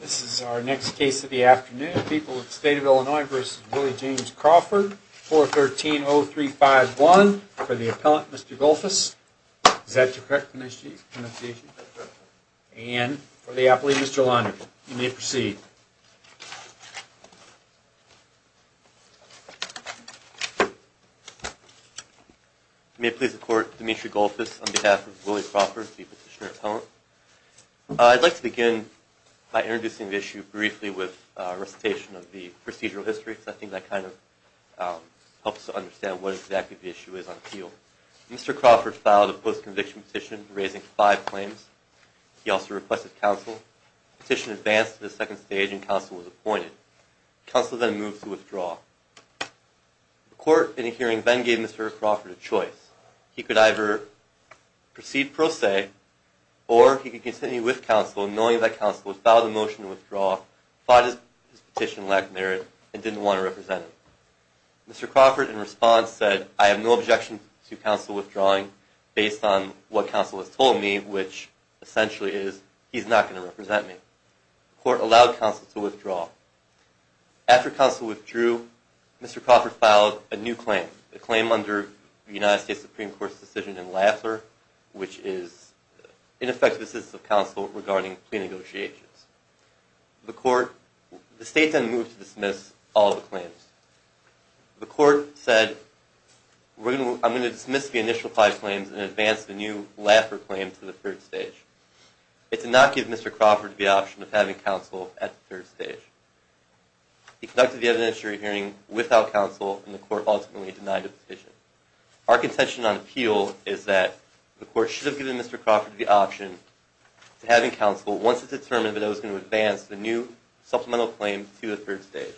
This is our next case of the afternoon, People of the State of Illinois v. Willie James Crawford, 413-0351, for the appellant, Mr. Golfus. Is that correct, Mr. Chief? And for the appellee, Mr. Linder. You may proceed. You may please report, Demetri Golfus, on behalf of Willie Crawford, the petitioner appellant. I'd like to begin by introducing the issue briefly with a recitation of the procedural history, because I think that kind of helps to understand what exactly the issue is on appeal. Mr. Crawford filed a post-conviction petition, raising five claims. He also requested counsel. The petition advanced to the second stage, and counsel was appointed. Counsel then moved to withdraw. The court, in a hearing, then gave Mr. Crawford a choice. He could either proceed pro se, or he could continue with counsel, knowing that counsel would file the motion to withdraw, but his petition lacked merit and didn't want to represent him. Mr. Crawford, in response, said, I have no objection to counsel withdrawing, based on what counsel has told me, which essentially is, he's not going to represent me. The court allowed counsel to withdraw. After counsel withdrew, Mr. Crawford filed a new claim, a claim under the United States Supreme Court's decision in Laffer, which is ineffective assistance of counsel regarding plea negotiations. The court, the state then moved to dismiss all the claims. The court said, I'm going to dismiss the initial five claims and advance the new Laffer claim to the third stage. It did not give Mr. Crawford the option of having counsel at the third stage. He conducted the evidentiary hearing without counsel, and the court ultimately denied the petition. Our contention on appeal is that the court should have given Mr. Crawford the option to having counsel, once it determined that it was going to advance the new supplemental claim to the third stage.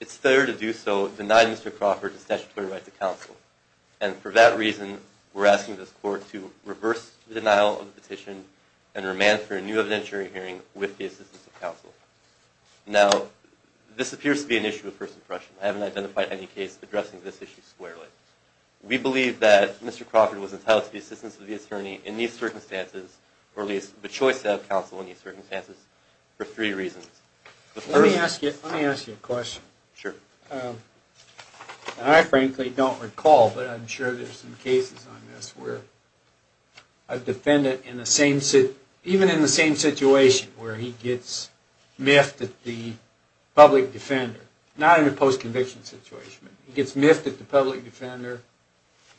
It's fair to do so, denying Mr. Crawford the statutory right to counsel. And for that reason, we're asking this court to reverse the denial of the petition and remand for a new evidentiary hearing with the assistance of counsel. Now, this appears to be an issue of first impression. I haven't identified any case addressing this issue squarely. We believe that Mr. Crawford was entitled to the assistance of the attorney in these circumstances, or at least the choice of counsel in these circumstances, for three reasons. Let me ask you a question. Sure. I frankly don't recall, but I'm sure there's some cases on this where a defendant, even in the same situation where he gets miffed at the public defender, not in a post-conviction situation, but he gets miffed at the public defender,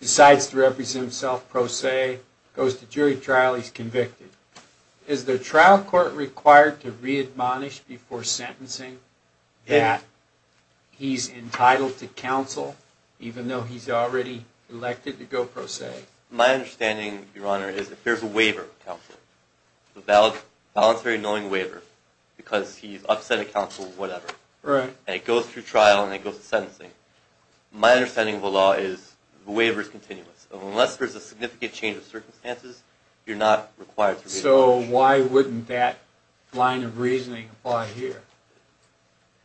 decides to represent himself pro se, goes to jury trial, he's convicted. Is the trial court required to readmonish before sentencing that he's entitled to counsel, even though he's already elected to go pro se? My understanding, Your Honor, is if there's a waiver of counsel, a voluntary knowing waiver, because he's upset at counsel or whatever, and it goes through trial and it goes to sentencing, my understanding of the law is the waiver is continuous. Unless there's a significant change of circumstances, you're not required to readmonish. So why wouldn't that line of reasoning apply here?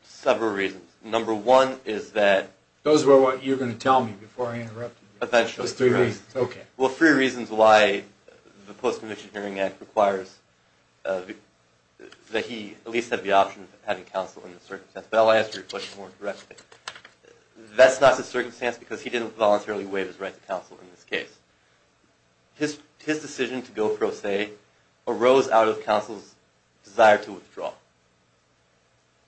Several reasons. Number one is that... Those were what you were going to tell me before I interrupted you. Eventually. Just three reasons. Okay. Well, three reasons why the Post-Conviction Hearing Act requires that he at least have the option of having counsel in this circumstance. But I'll answer your question more directly. That's not the circumstance because he didn't voluntarily waive his right to counsel in this case. His decision to go pro se arose out of counsel's desire to withdraw.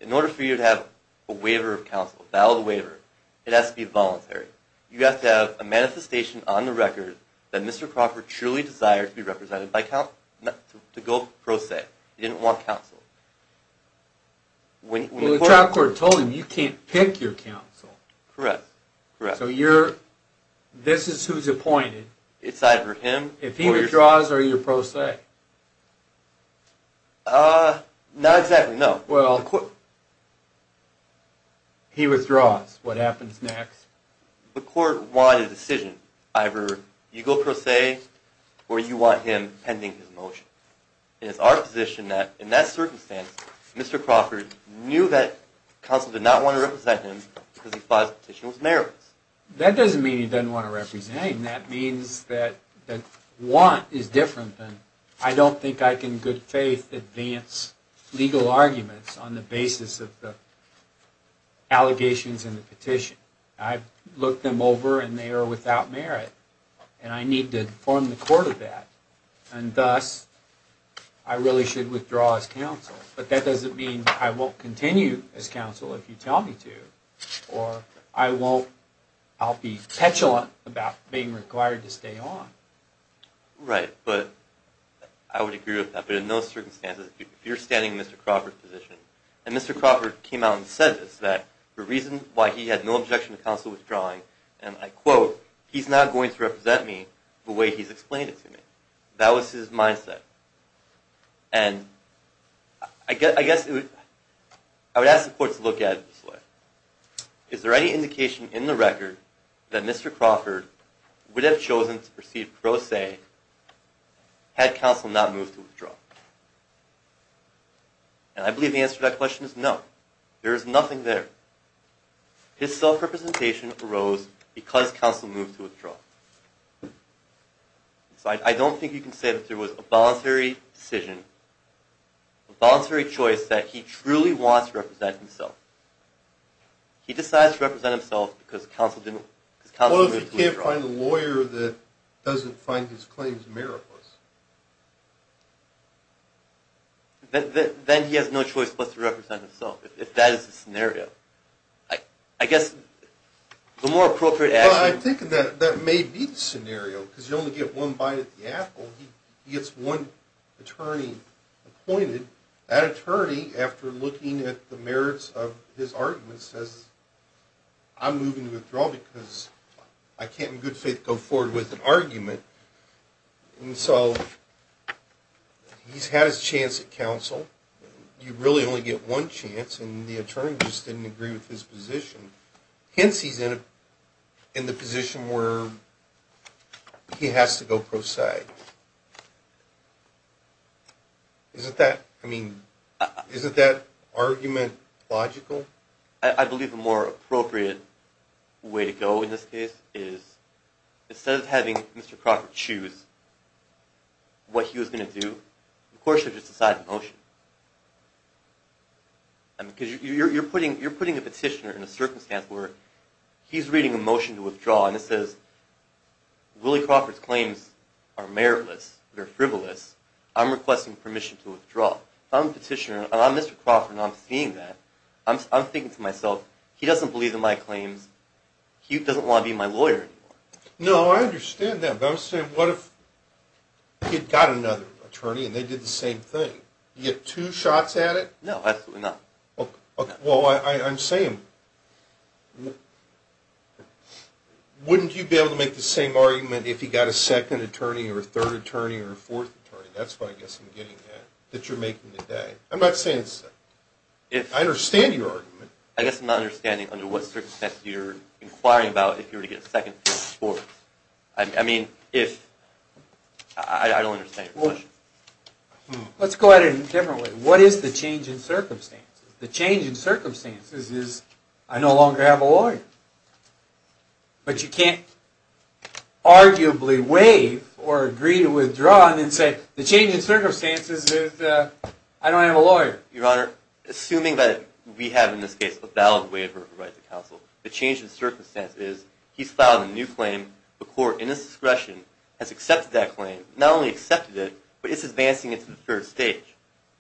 In order for you to have a waiver of counsel, a valid waiver, it has to be voluntary. You have to have a manifestation on the record that Mr. Crocker truly desired to be represented by counsel, to go pro se. He didn't want counsel. Well, the trial court told him, you can't pick your counsel. Correct. So this is who's appointed. It's either him or your counsel. If he withdraws, are you pro se? Not exactly, no. He withdraws. What happens next? The court wanted a decision. Either you go pro se or you want him pending his motion. And it's our position that in that circumstance, Mr. Crocker knew that counsel did not want to represent him because he thought his petition was meritorious. That doesn't mean he doesn't want to represent him. That means that want is different than I don't think I can in good faith advance legal arguments on the basis of the allegations in the petition. I've looked them over, and they are without merit, and I need to inform the court of that. And thus, I really should withdraw as counsel. But that doesn't mean I won't continue as counsel if you tell me to, or I'll be petulant about being required to stay on. Right, but I would agree with that. But in those circumstances, if you're standing in Mr. Crawford's position, and Mr. Crawford came out and said this, that the reason why he had no objection to counsel withdrawing, and I quote, he's not going to represent me the way he's explained it to me. That was his mindset. And I guess I would ask the court to look at it this way. Is there any indication in the record that Mr. Crawford would have chosen to proceed pro se had counsel not moved to withdraw? And I believe the answer to that question is no. There is nothing there. His self-representation arose because counsel moved to withdraw. So I don't think you can say that there was a voluntary decision, a voluntary choice that he truly wants to represent himself. He decides to represent himself because counsel moved to withdraw. You can't find a lawyer that doesn't find his claims meritless. Then he has no choice but to represent himself, if that is the scenario. I guess the more appropriate answer is... Well, I'm thinking that that may be the scenario, because you only get one bite at the apple. He gets one attorney appointed. That attorney, after looking at the merits of his argument, says, I'm moving to withdraw because I can't in good faith go forward with an argument. And so he's had his chance at counsel. You really only get one chance, and the attorney just didn't agree with his position. Hence, he's in the position where he has to go pro se. Isn't that argument logical? I believe the more appropriate way to go in this case is, instead of having Mr. Crawford choose what he was going to do, of course you have to decide in motion. You're putting a petitioner in a circumstance where he's reading a motion to withdraw, and it says, Willie Crawford's claims are meritless, they're frivolous. I'm requesting permission to withdraw. Well, I'm the petitioner, and I'm Mr. Crawford, and I'm seeing that. I'm thinking to myself, he doesn't believe in my claims, he doesn't want to be my lawyer anymore. No, I understand that, but I'm saying, what if he'd got another attorney and they did the same thing? You get two shots at it? No, absolutely not. Well, I'm saying, wouldn't you be able to make the same argument if he got a second attorney or a third attorney or a fourth attorney? That's what I guess I'm getting at, that you're making today. I'm not saying second. I understand your argument. I guess I'm not understanding under what circumstances you're inquiring about if you were to get a second for sports. I mean, if... I don't understand your question. Let's go at it in a different way. What is the change in circumstances? The change in circumstances is, I no longer have a lawyer. But you can't arguably waive or agree to withdraw and then say, the change in circumstances is, I don't have a lawyer. Your Honor, assuming that we have in this case a valid waiver of rights of counsel, the change in circumstances is, he's filed a new claim. The court, in its discretion, has accepted that claim. Not only accepted it, but it's advancing it to the third stage.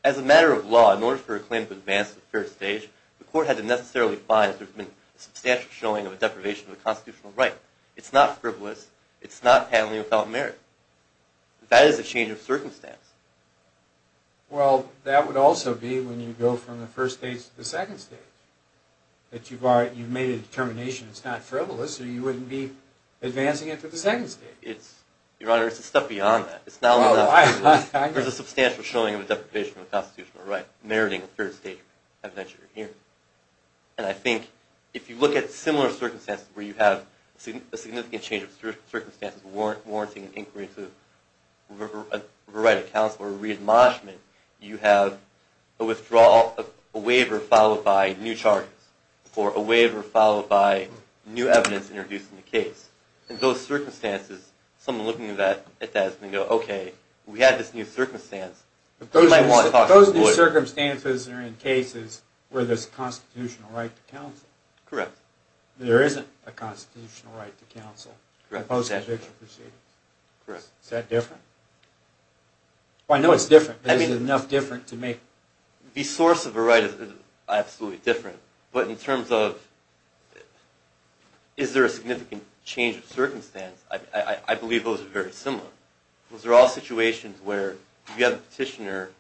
As a matter of law, in order for a claim to advance to the third stage, the court had to necessarily advise there's been a substantial showing of a deprivation of a constitutional right. It's not frivolous. It's not handling without merit. That is a change of circumstance. Well, that would also be when you go from the first stage to the second stage. That you've made a determination it's not frivolous, or you wouldn't be advancing it to the second stage. Your Honor, it's the stuff beyond that. Oh, I get it. There's a substantial showing of a deprivation of a constitutional right, meriting a third stage evidentiary hearing. And I think, if you look at similar circumstances, where you have a significant change of circumstances, warranting an inquiry into the right of counsel or a re-admonishment, you have a withdrawal of a waiver followed by new charges, or a waiver followed by new evidence introduced in the case. In those circumstances, someone looking at that is going to go, Okay, we had this new circumstance. Those circumstances are in cases where there's a constitutional right to counsel. Correct. There isn't a constitutional right to counsel in post-conviction proceedings. Is that different? I know it's different, but is it enough different to make... The source of a right is absolutely different. But in terms of is there a significant change of circumstance, I believe those are very similar. Those are all situations where, if you have a petitioner,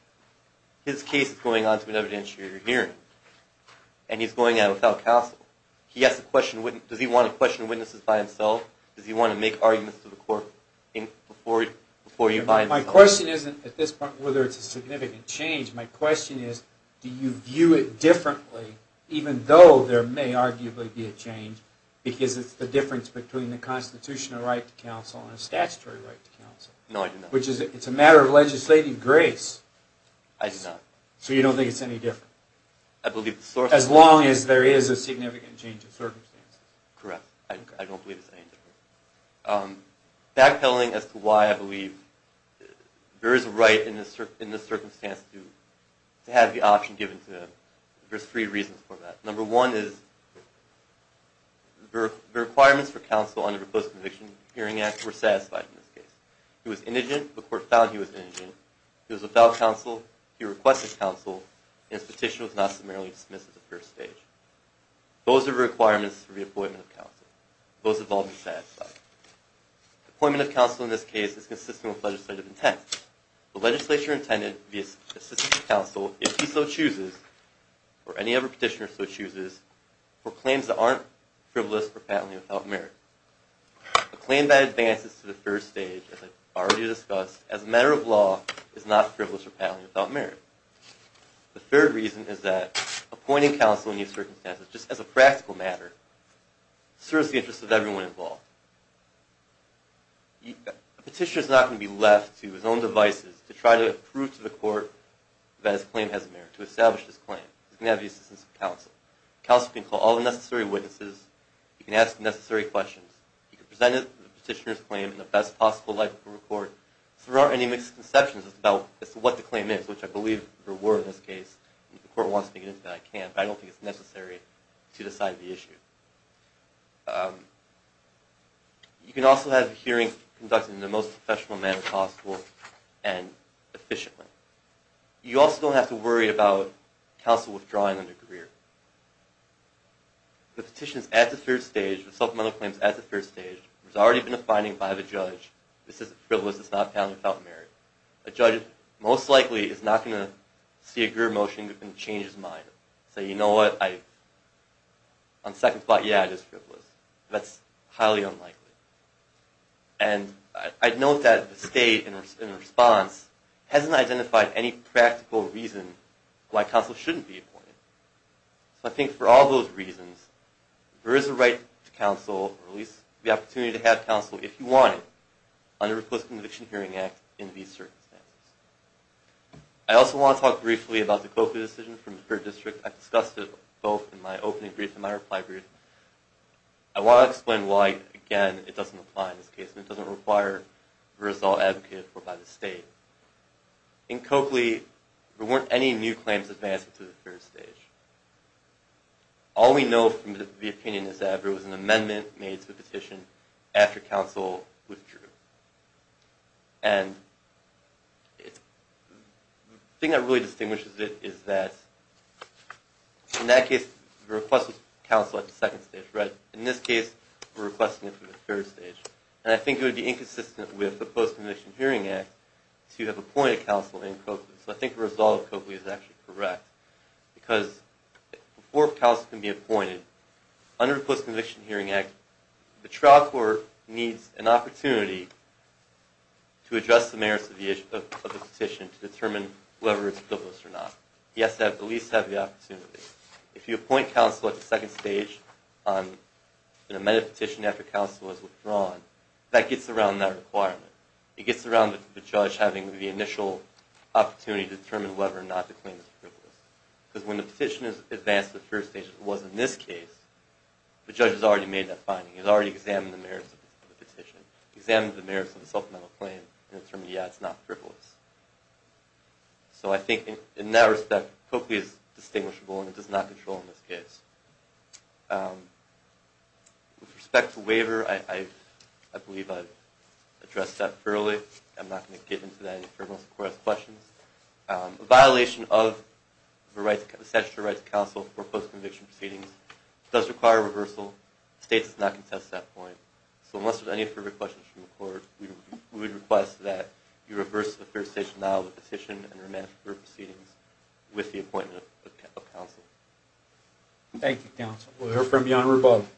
his case is going on to an evidentiary hearing, and he's going on without counsel. Does he want to question witnesses by himself? Does he want to make arguments to the court before you buy into it? My question isn't at this point whether it's a significant change. My question is, do you view it differently, even though there may arguably be a change, because it's the difference between the constitutional right to counsel and a statutory right to counsel? No, I do not. Which is, it's a matter of legislative grace. I do not. So you don't think it's any different? I believe the source... As long as there is a significant change of circumstance. Correct. I don't believe it's any different. Backpedaling as to why I believe there is a right in this circumstance to have the option given to... There's three reasons for that. Number one is the requirements for counsel under the Post-Conviction Hearing Act were satisfied in this case. He was indigent. The court found he was indigent. He was without counsel. He requested counsel, and his petition was not summarily dismissed at the first stage. Those are the requirements for the appointment of counsel. Those have all been satisfied. Appointment of counsel in this case is consistent with legislative intent. The legislature intended the assistant to counsel, if he so chooses, or any other petitioner so chooses, for claims that aren't frivolous or fatally without merit. A claim that advances to the first stage, as I've already discussed, as a matter of law is not frivolous or fatally without merit. The third reason is that appointing counsel in these circumstances, just as a practical matter, serves the interests of everyone involved. A petitioner is not going to be left to his own devices to try to prove to the court that his claim has merit, to establish his claim. He's going to have the assistance of counsel. Counsel can call all the necessary witnesses. He can ask the necessary questions. He can present the petitioner's claim in the best possible light for the court. There aren't any misconceptions as to what the claim is, which I believe there were in this case. If the court wants me to get into that, I can, but I don't think it's necessary to decide the issue. You can also have the hearing conducted in the most professional manner possible and efficiently. You also don't have to worry about counsel withdrawing under career. The petition is at the third stage. The supplemental claim is at the third stage. There's already been a finding by the judge. This isn't frivolous. It's not fatally without merit. A judge most likely is not going to see a group motion and change his mind, say, you know what, on second thought, yeah, it is frivolous. That's highly unlikely. And I'd note that the state, in response, hasn't identified any practical reason why counsel shouldn't be appointed. So I think for all those reasons, there is a right to counsel, or at least the opportunity to have counsel if you want it, under the Recluse Conviction Hearing Act in these circumstances. I also want to talk briefly about the Coakley decision from the third district. I discussed it both in my opening brief and my reply brief. I want to explain why, again, it doesn't apply in this case, and it doesn't require the result advocated for by the state. In Coakley, there weren't any new claims advanced through the third stage. All we know from the opinion is that there was an amendment made to the petition after counsel withdrew. And the thing that really distinguishes it is that, in that case, the request was counsel at the second stage. In this case, we're requesting it through the third stage. And I think it would be inconsistent with the Post-Conviction Hearing Act to have appointed counsel in Coakley. So I think the result of Coakley is actually correct, because before counsel can be appointed, under the Post-Conviction Hearing Act, the trial court needs an opportunity to address the merits of the petition to determine whether it's a privilege or not. He has to at least have the opportunity. If you appoint counsel at the second stage, and an amended petition after counsel is withdrawn, that gets around that requirement. It gets around the judge having the initial opportunity to determine whether or not the claim is frivolous. Because when the petition is advanced to the first stage, as it was in this case, the judge has already made that finding. He's already examined the merits of the petition, examined the merits of the supplemental claim, and determined, yeah, it's not frivolous. So I think, in that respect, Coakley is distinguishable, and it does not control in this case. With respect to waiver, I believe I've addressed that fairly. I'm not going to get into that any further unless the court has questions. A violation of the statutory rights of counsel for post-conviction proceedings does require a reversal. The state does not contest that point. So unless there's any further questions from the court, we would request that you reverse to the third stage now the petition and remand group proceedings with the appointment of counsel. Thank you, counsel. We'll hear from Your Honor above.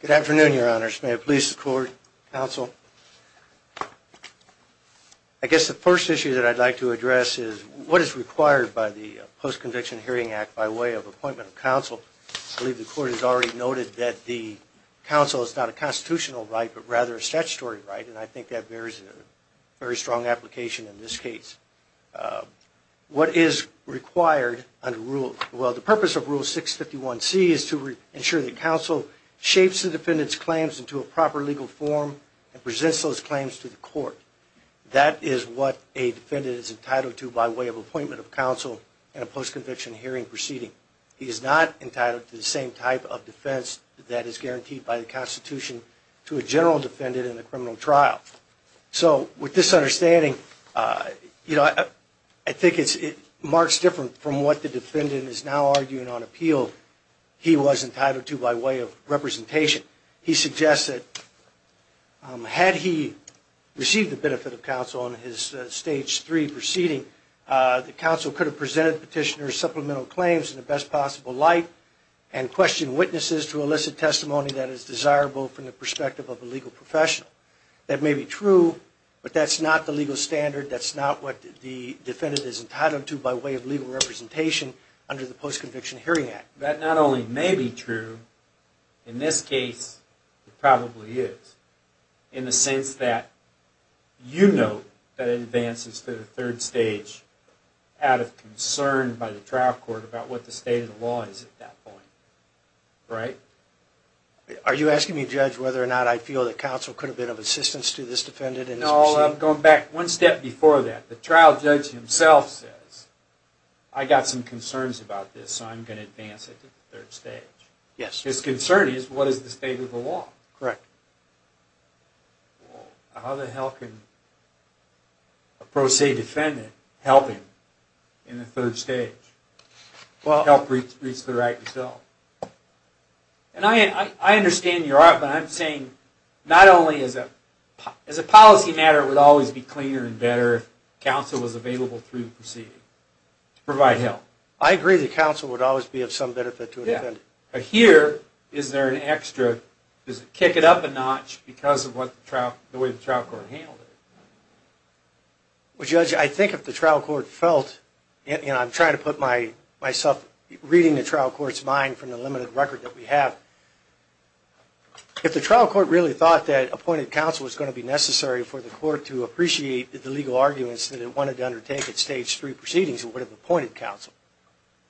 Good afternoon, Your Honors. May it please the court, counsel. I guess the first issue that I'd like to address is what is required by the Post-Conviction Hearing Act by way of appointment of counsel. I believe the court has already noted that the counsel is not a constitutional right, but rather a statutory right, and I think that bears a very strong application in this case. What is required under Rule – well, the purpose of Rule 651C is to ensure that counsel shapes the defendant's claims into a proper legal form and presents those claims to the court. That is what a defendant is entitled to by way of appointment of counsel in a post-conviction hearing proceeding. He is not entitled to the same type of defense that is guaranteed by the Constitution to a general defendant in a criminal trial. So with this understanding, you know, I think it marks different from what the defendant is now arguing on appeal he was entitled to by way of representation. He suggests that had he received the benefit of counsel on his Stage 3 proceeding, the counsel could have presented petitioner's supplemental claims in the best possible light and questioned witnesses to elicit testimony that is desirable from the perspective of a legal professional. That may be true, but that's not the legal standard. That's not what the defendant is entitled to by way of legal representation under the Post-Conviction Hearing Act. That not only may be true, in this case it probably is, in the sense that you know that it advances to the third stage out of concern by the trial court about what the state of the law is at that point. Right? Are you asking me, Judge, whether or not I feel that counsel could have been of assistance to this defendant? No, I'm going back one step before that. The trial judge himself says, I got some concerns about this, so I'm going to advance it to the third stage. Yes. His concern is, what is the state of the law? Correct. Well, how the hell can a pro se defendant help him in the third stage? Help reach the right result? And I understand your argument. I'm saying, not only as a policy matter, it would always be cleaner and better if counsel was available through the proceeding to provide help. But here, is there an extra, does it kick it up a notch because of the way the trial court handled it? Well, Judge, I think if the trial court felt, and I'm trying to put myself reading the trial court's mind from the limited record that we have, if the trial court really thought that appointed counsel was going to be necessary for the court to appreciate the legal arguments that it wanted to undertake at stage three proceedings, it would have appointed counsel,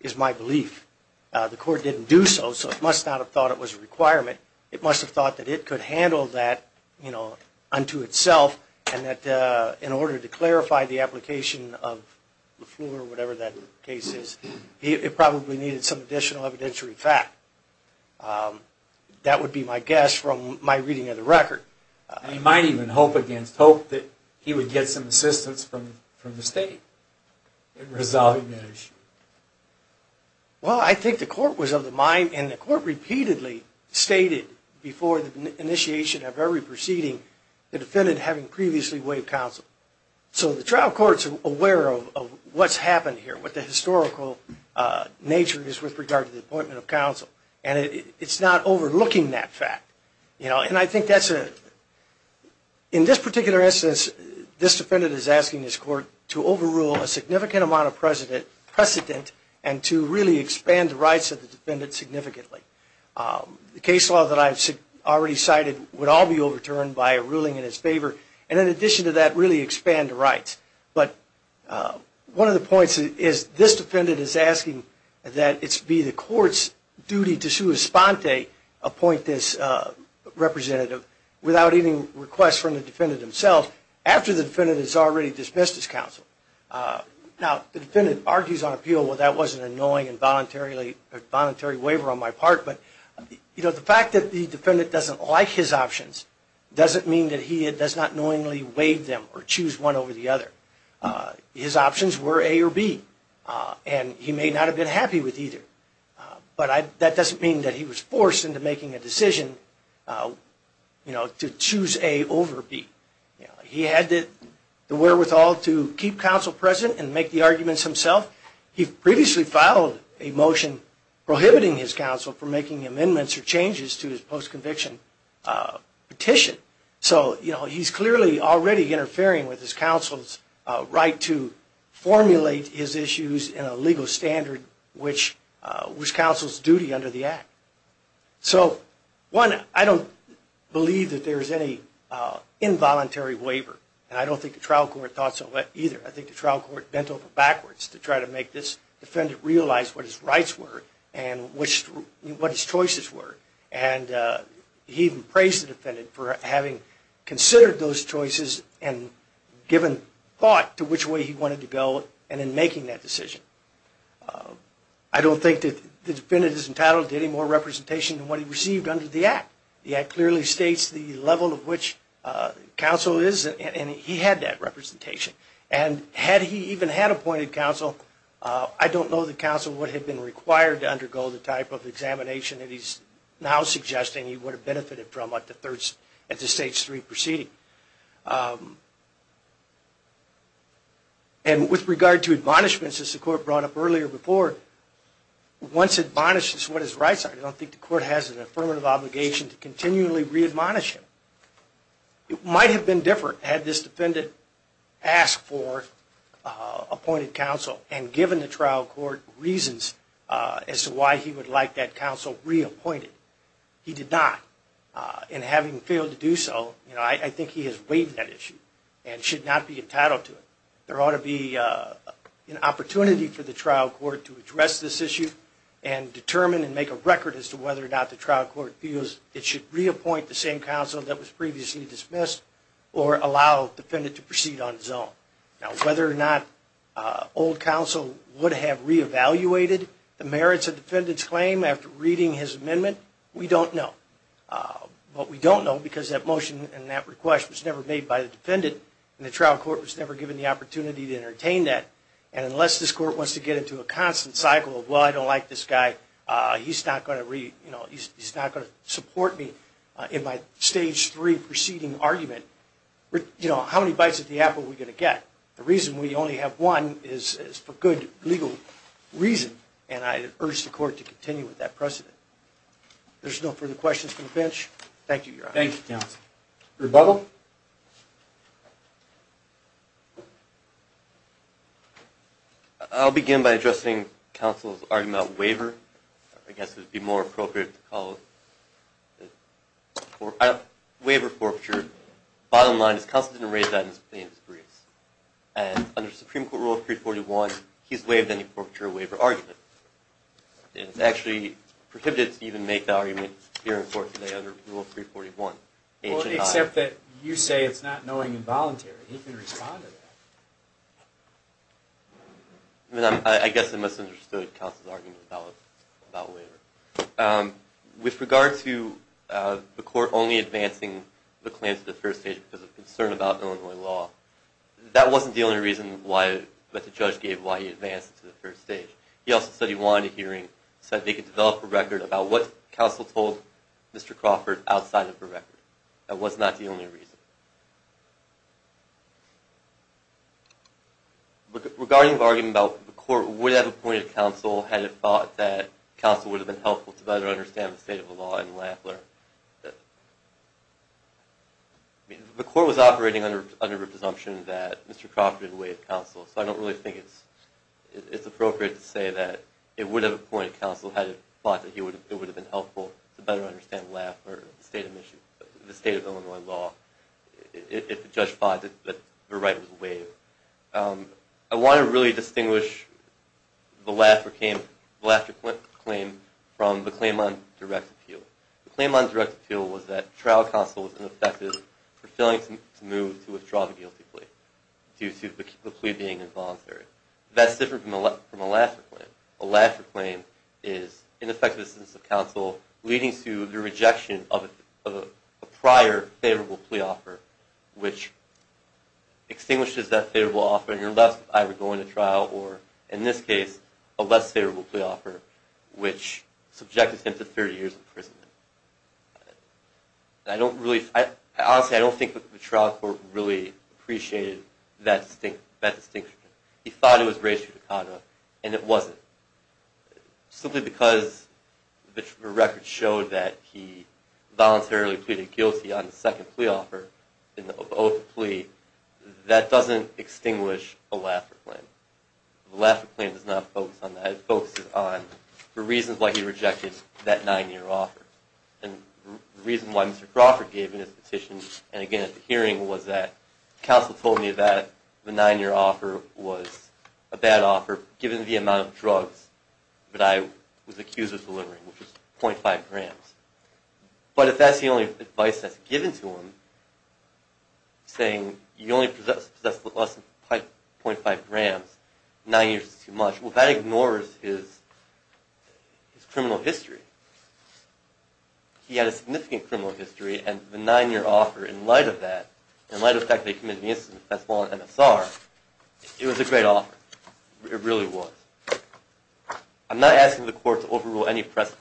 is my belief. The court didn't do so, so it must not have thought it was a requirement. It must have thought that it could handle that unto itself, and that in order to clarify the application of the floor or whatever that case is, it probably needed some additional evidentiary fact. That would be my guess from my reading of the record. You might even hope against hope that he would get some assistance from the state in resolving that issue. Well, I think the court was of the mind, and the court repeatedly stated before the initiation of every proceeding, the defendant having previously waived counsel. So the trial court's aware of what's happened here, what the historical nature is with regard to the appointment of counsel, and it's not overlooking that fact. And I think that's a, in this particular instance, this defendant is asking this court to overrule a significant amount of precedent and to really expand the rights of the defendant significantly. The case law that I've already cited would all be overturned by a ruling in his favor, and in addition to that, really expand the rights. But one of the points is this defendant is asking that it be the court's duty appoint this representative without any request from the defendant himself, after the defendant has already dismissed his counsel. Now, the defendant argues on appeal, well, that was an annoying and voluntary waiver on my part, but the fact that the defendant doesn't like his options doesn't mean that he does not knowingly waive them or choose one over the other. His options were A or B, and he may not have been happy with either. But that doesn't mean that he was forced into making a decision to choose A over B. He had the wherewithal to keep counsel present and make the arguments himself. He previously filed a motion prohibiting his counsel from making amendments or changes to his post-conviction petition. So he's clearly already interfering with his counsel's right to formulate his issues in a legal standard which counsel's duty under the Act. So, one, I don't believe that there's any involuntary waiver, and I don't think the trial court thought so either. I think the trial court bent over backwards to try to make this defendant realize what his rights were and what his choices were. And he even praised the defendant for having considered those choices and given thought to which way he wanted to go and in making that decision. I don't think that the defendant is entitled to any more representation than what he received under the Act. The Act clearly states the level of which counsel is, and he had that representation. And had he even had appointed counsel, I don't know that counsel would have been required to undergo the type of examination that he's now suggesting he would have benefited from at the stage three proceeding. And with regard to admonishments, as the court brought up earlier before, once admonished as to what his rights are, I don't think the court has an affirmative obligation to continually re-admonish him. It might have been different had this defendant asked for appointed counsel and given the trial court reasons as to why he would like that counsel reappointed. He did not. And having failed to do so, I think he has waived that issue and should not be entitled to it. There ought to be an opportunity for the trial court to address this issue and determine and make a record as to whether or not the trial court feels it should reappoint the same counsel that was previously dismissed or allow the defendant to proceed on his own. Now, whether or not old counsel would have re-evaluated the merits of the defendant's claim after reading his amendment, we don't know. But we don't know because that motion and that request was never made by the defendant and the trial court was never given the opportunity to entertain that. And unless this court wants to get into a constant cycle of, well, I don't like this guy, he's not going to support me in my stage three proceeding argument, how many bites of the apple are we going to get? The reason we only have one is for good legal reason, and I urge the court to continue with that precedent. There's no further questions from the bench. Thank you, Your Honor. Thank you, counsel. Rebuttal? I'll begin by addressing counsel's argument about waiver. I guess it would be more appropriate to call it waiver forfeiture. Bottom line is counsel didn't raise that in his briefs. And under Supreme Court Rule 341, he's waived any forfeiture waiver argument. It's actually prohibited to even make the argument here in court today under Rule 341. Well, except that you say it's not knowing and voluntary. He can respond to that. I guess I misunderstood counsel's argument about waiver. With regard to the court only advancing the claims at the first stage because of concern about Illinois law, that wasn't the only reason that the judge gave why he advanced it to the first stage. He also said he wanted a hearing so that they could develop a record about what counsel told Mr. Crawford outside of the record. That was not the only reason. Regarding the argument about the court would have appointed counsel had it thought that counsel would have been helpful to better understand the state of the law in Lafler, the court was operating under the presumption that Mr. Crawford had waived counsel, so I don't really think it's appropriate to say that it would have appointed counsel had it thought that it would have been helpful to better understand the state of Illinois law. If the judge thought that the right was waived. I want to really distinguish the Lafler claim from the claim on direct appeal. The claim on direct appeal was that trial counsel was ineffective for failing to move to withdraw the guilty plea due to the plea being involuntary. That's different from a Lafler claim. A Lafler claim is ineffective assistance of counsel leading to the rejection of a prior favorable plea offer which extinguishes that favorable offer and you're left either going to trial or, in this case, a less favorable plea offer which subjected him to 30 years in prison. Honestly, I don't think that the trial court really appreciated that distinction. He thought it was race judicata and it wasn't. Simply because the record showed that he voluntarily pleaded guilty on the second plea offer and the oath plea, that doesn't extinguish a Lafler claim. The Lafler claim does not focus on that. It focuses on the reasons why he rejected that nine-year offer and the reason why Mr. Crawford gave in his petition and again at the hearing was that counsel told me that the nine-year offer was a bad offer given the amount of drugs that I was accused of delivering, which was 0.5 grams. But if that's the only advice that's given to him, saying you only possess less than 0.5 grams, nine years is too much, well, that ignores his criminal history. He had a significant criminal history and the nine-year offer, in light of that, in light of the fact that he committed an incident that's not MSR, it was a great offer. It really was. I'm not asking the court to overrule any precedent.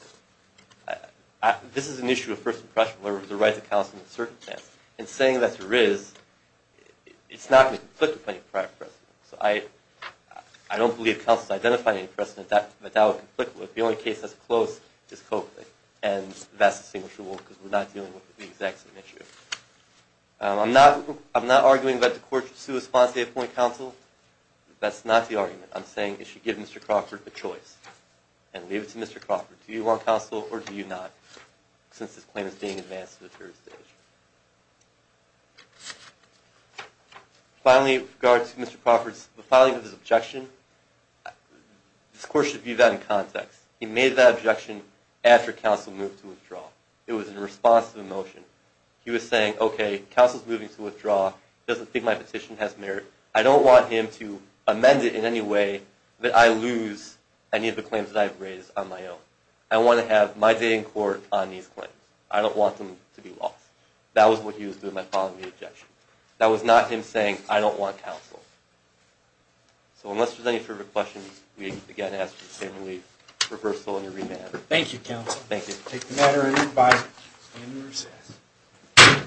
This is an issue of first impression where it was the right of counsel in a certain sense. In saying that there is, it's not going to conflict with any prior precedent. So I don't believe counsel has identified any precedent that that would conflict with. The only case that's close is Copeland and that's distinguishable because we're not dealing with the exact same issue. I'm not arguing that the court should sue a sponsor they appoint counsel. That's not the argument. I'm saying it should give Mr. Crawford a choice and leave it to Mr. Crawford. Do you want counsel or do you not, since this claim is being advanced to the jury stage? Finally, with regard to Mr. Crawford's filing of his objection, this court should view that in context. He made that objection after counsel moved to withdraw. It was in response to the motion. He was saying, okay, counsel's moving to withdraw. He doesn't think my petition has merit. I don't want him to amend it in any way that I lose any of the claims that I've raised on my own. I want to have my day in court on these claims. I don't want them to be lost. That was what he was doing by filing the objection. That was not him saying, I don't want counsel. So unless there's any further questions, we again ask you to stand and leave. Reversal and remand. Thank you, counsel. Thank you. We'll take the matter under review by standing recess.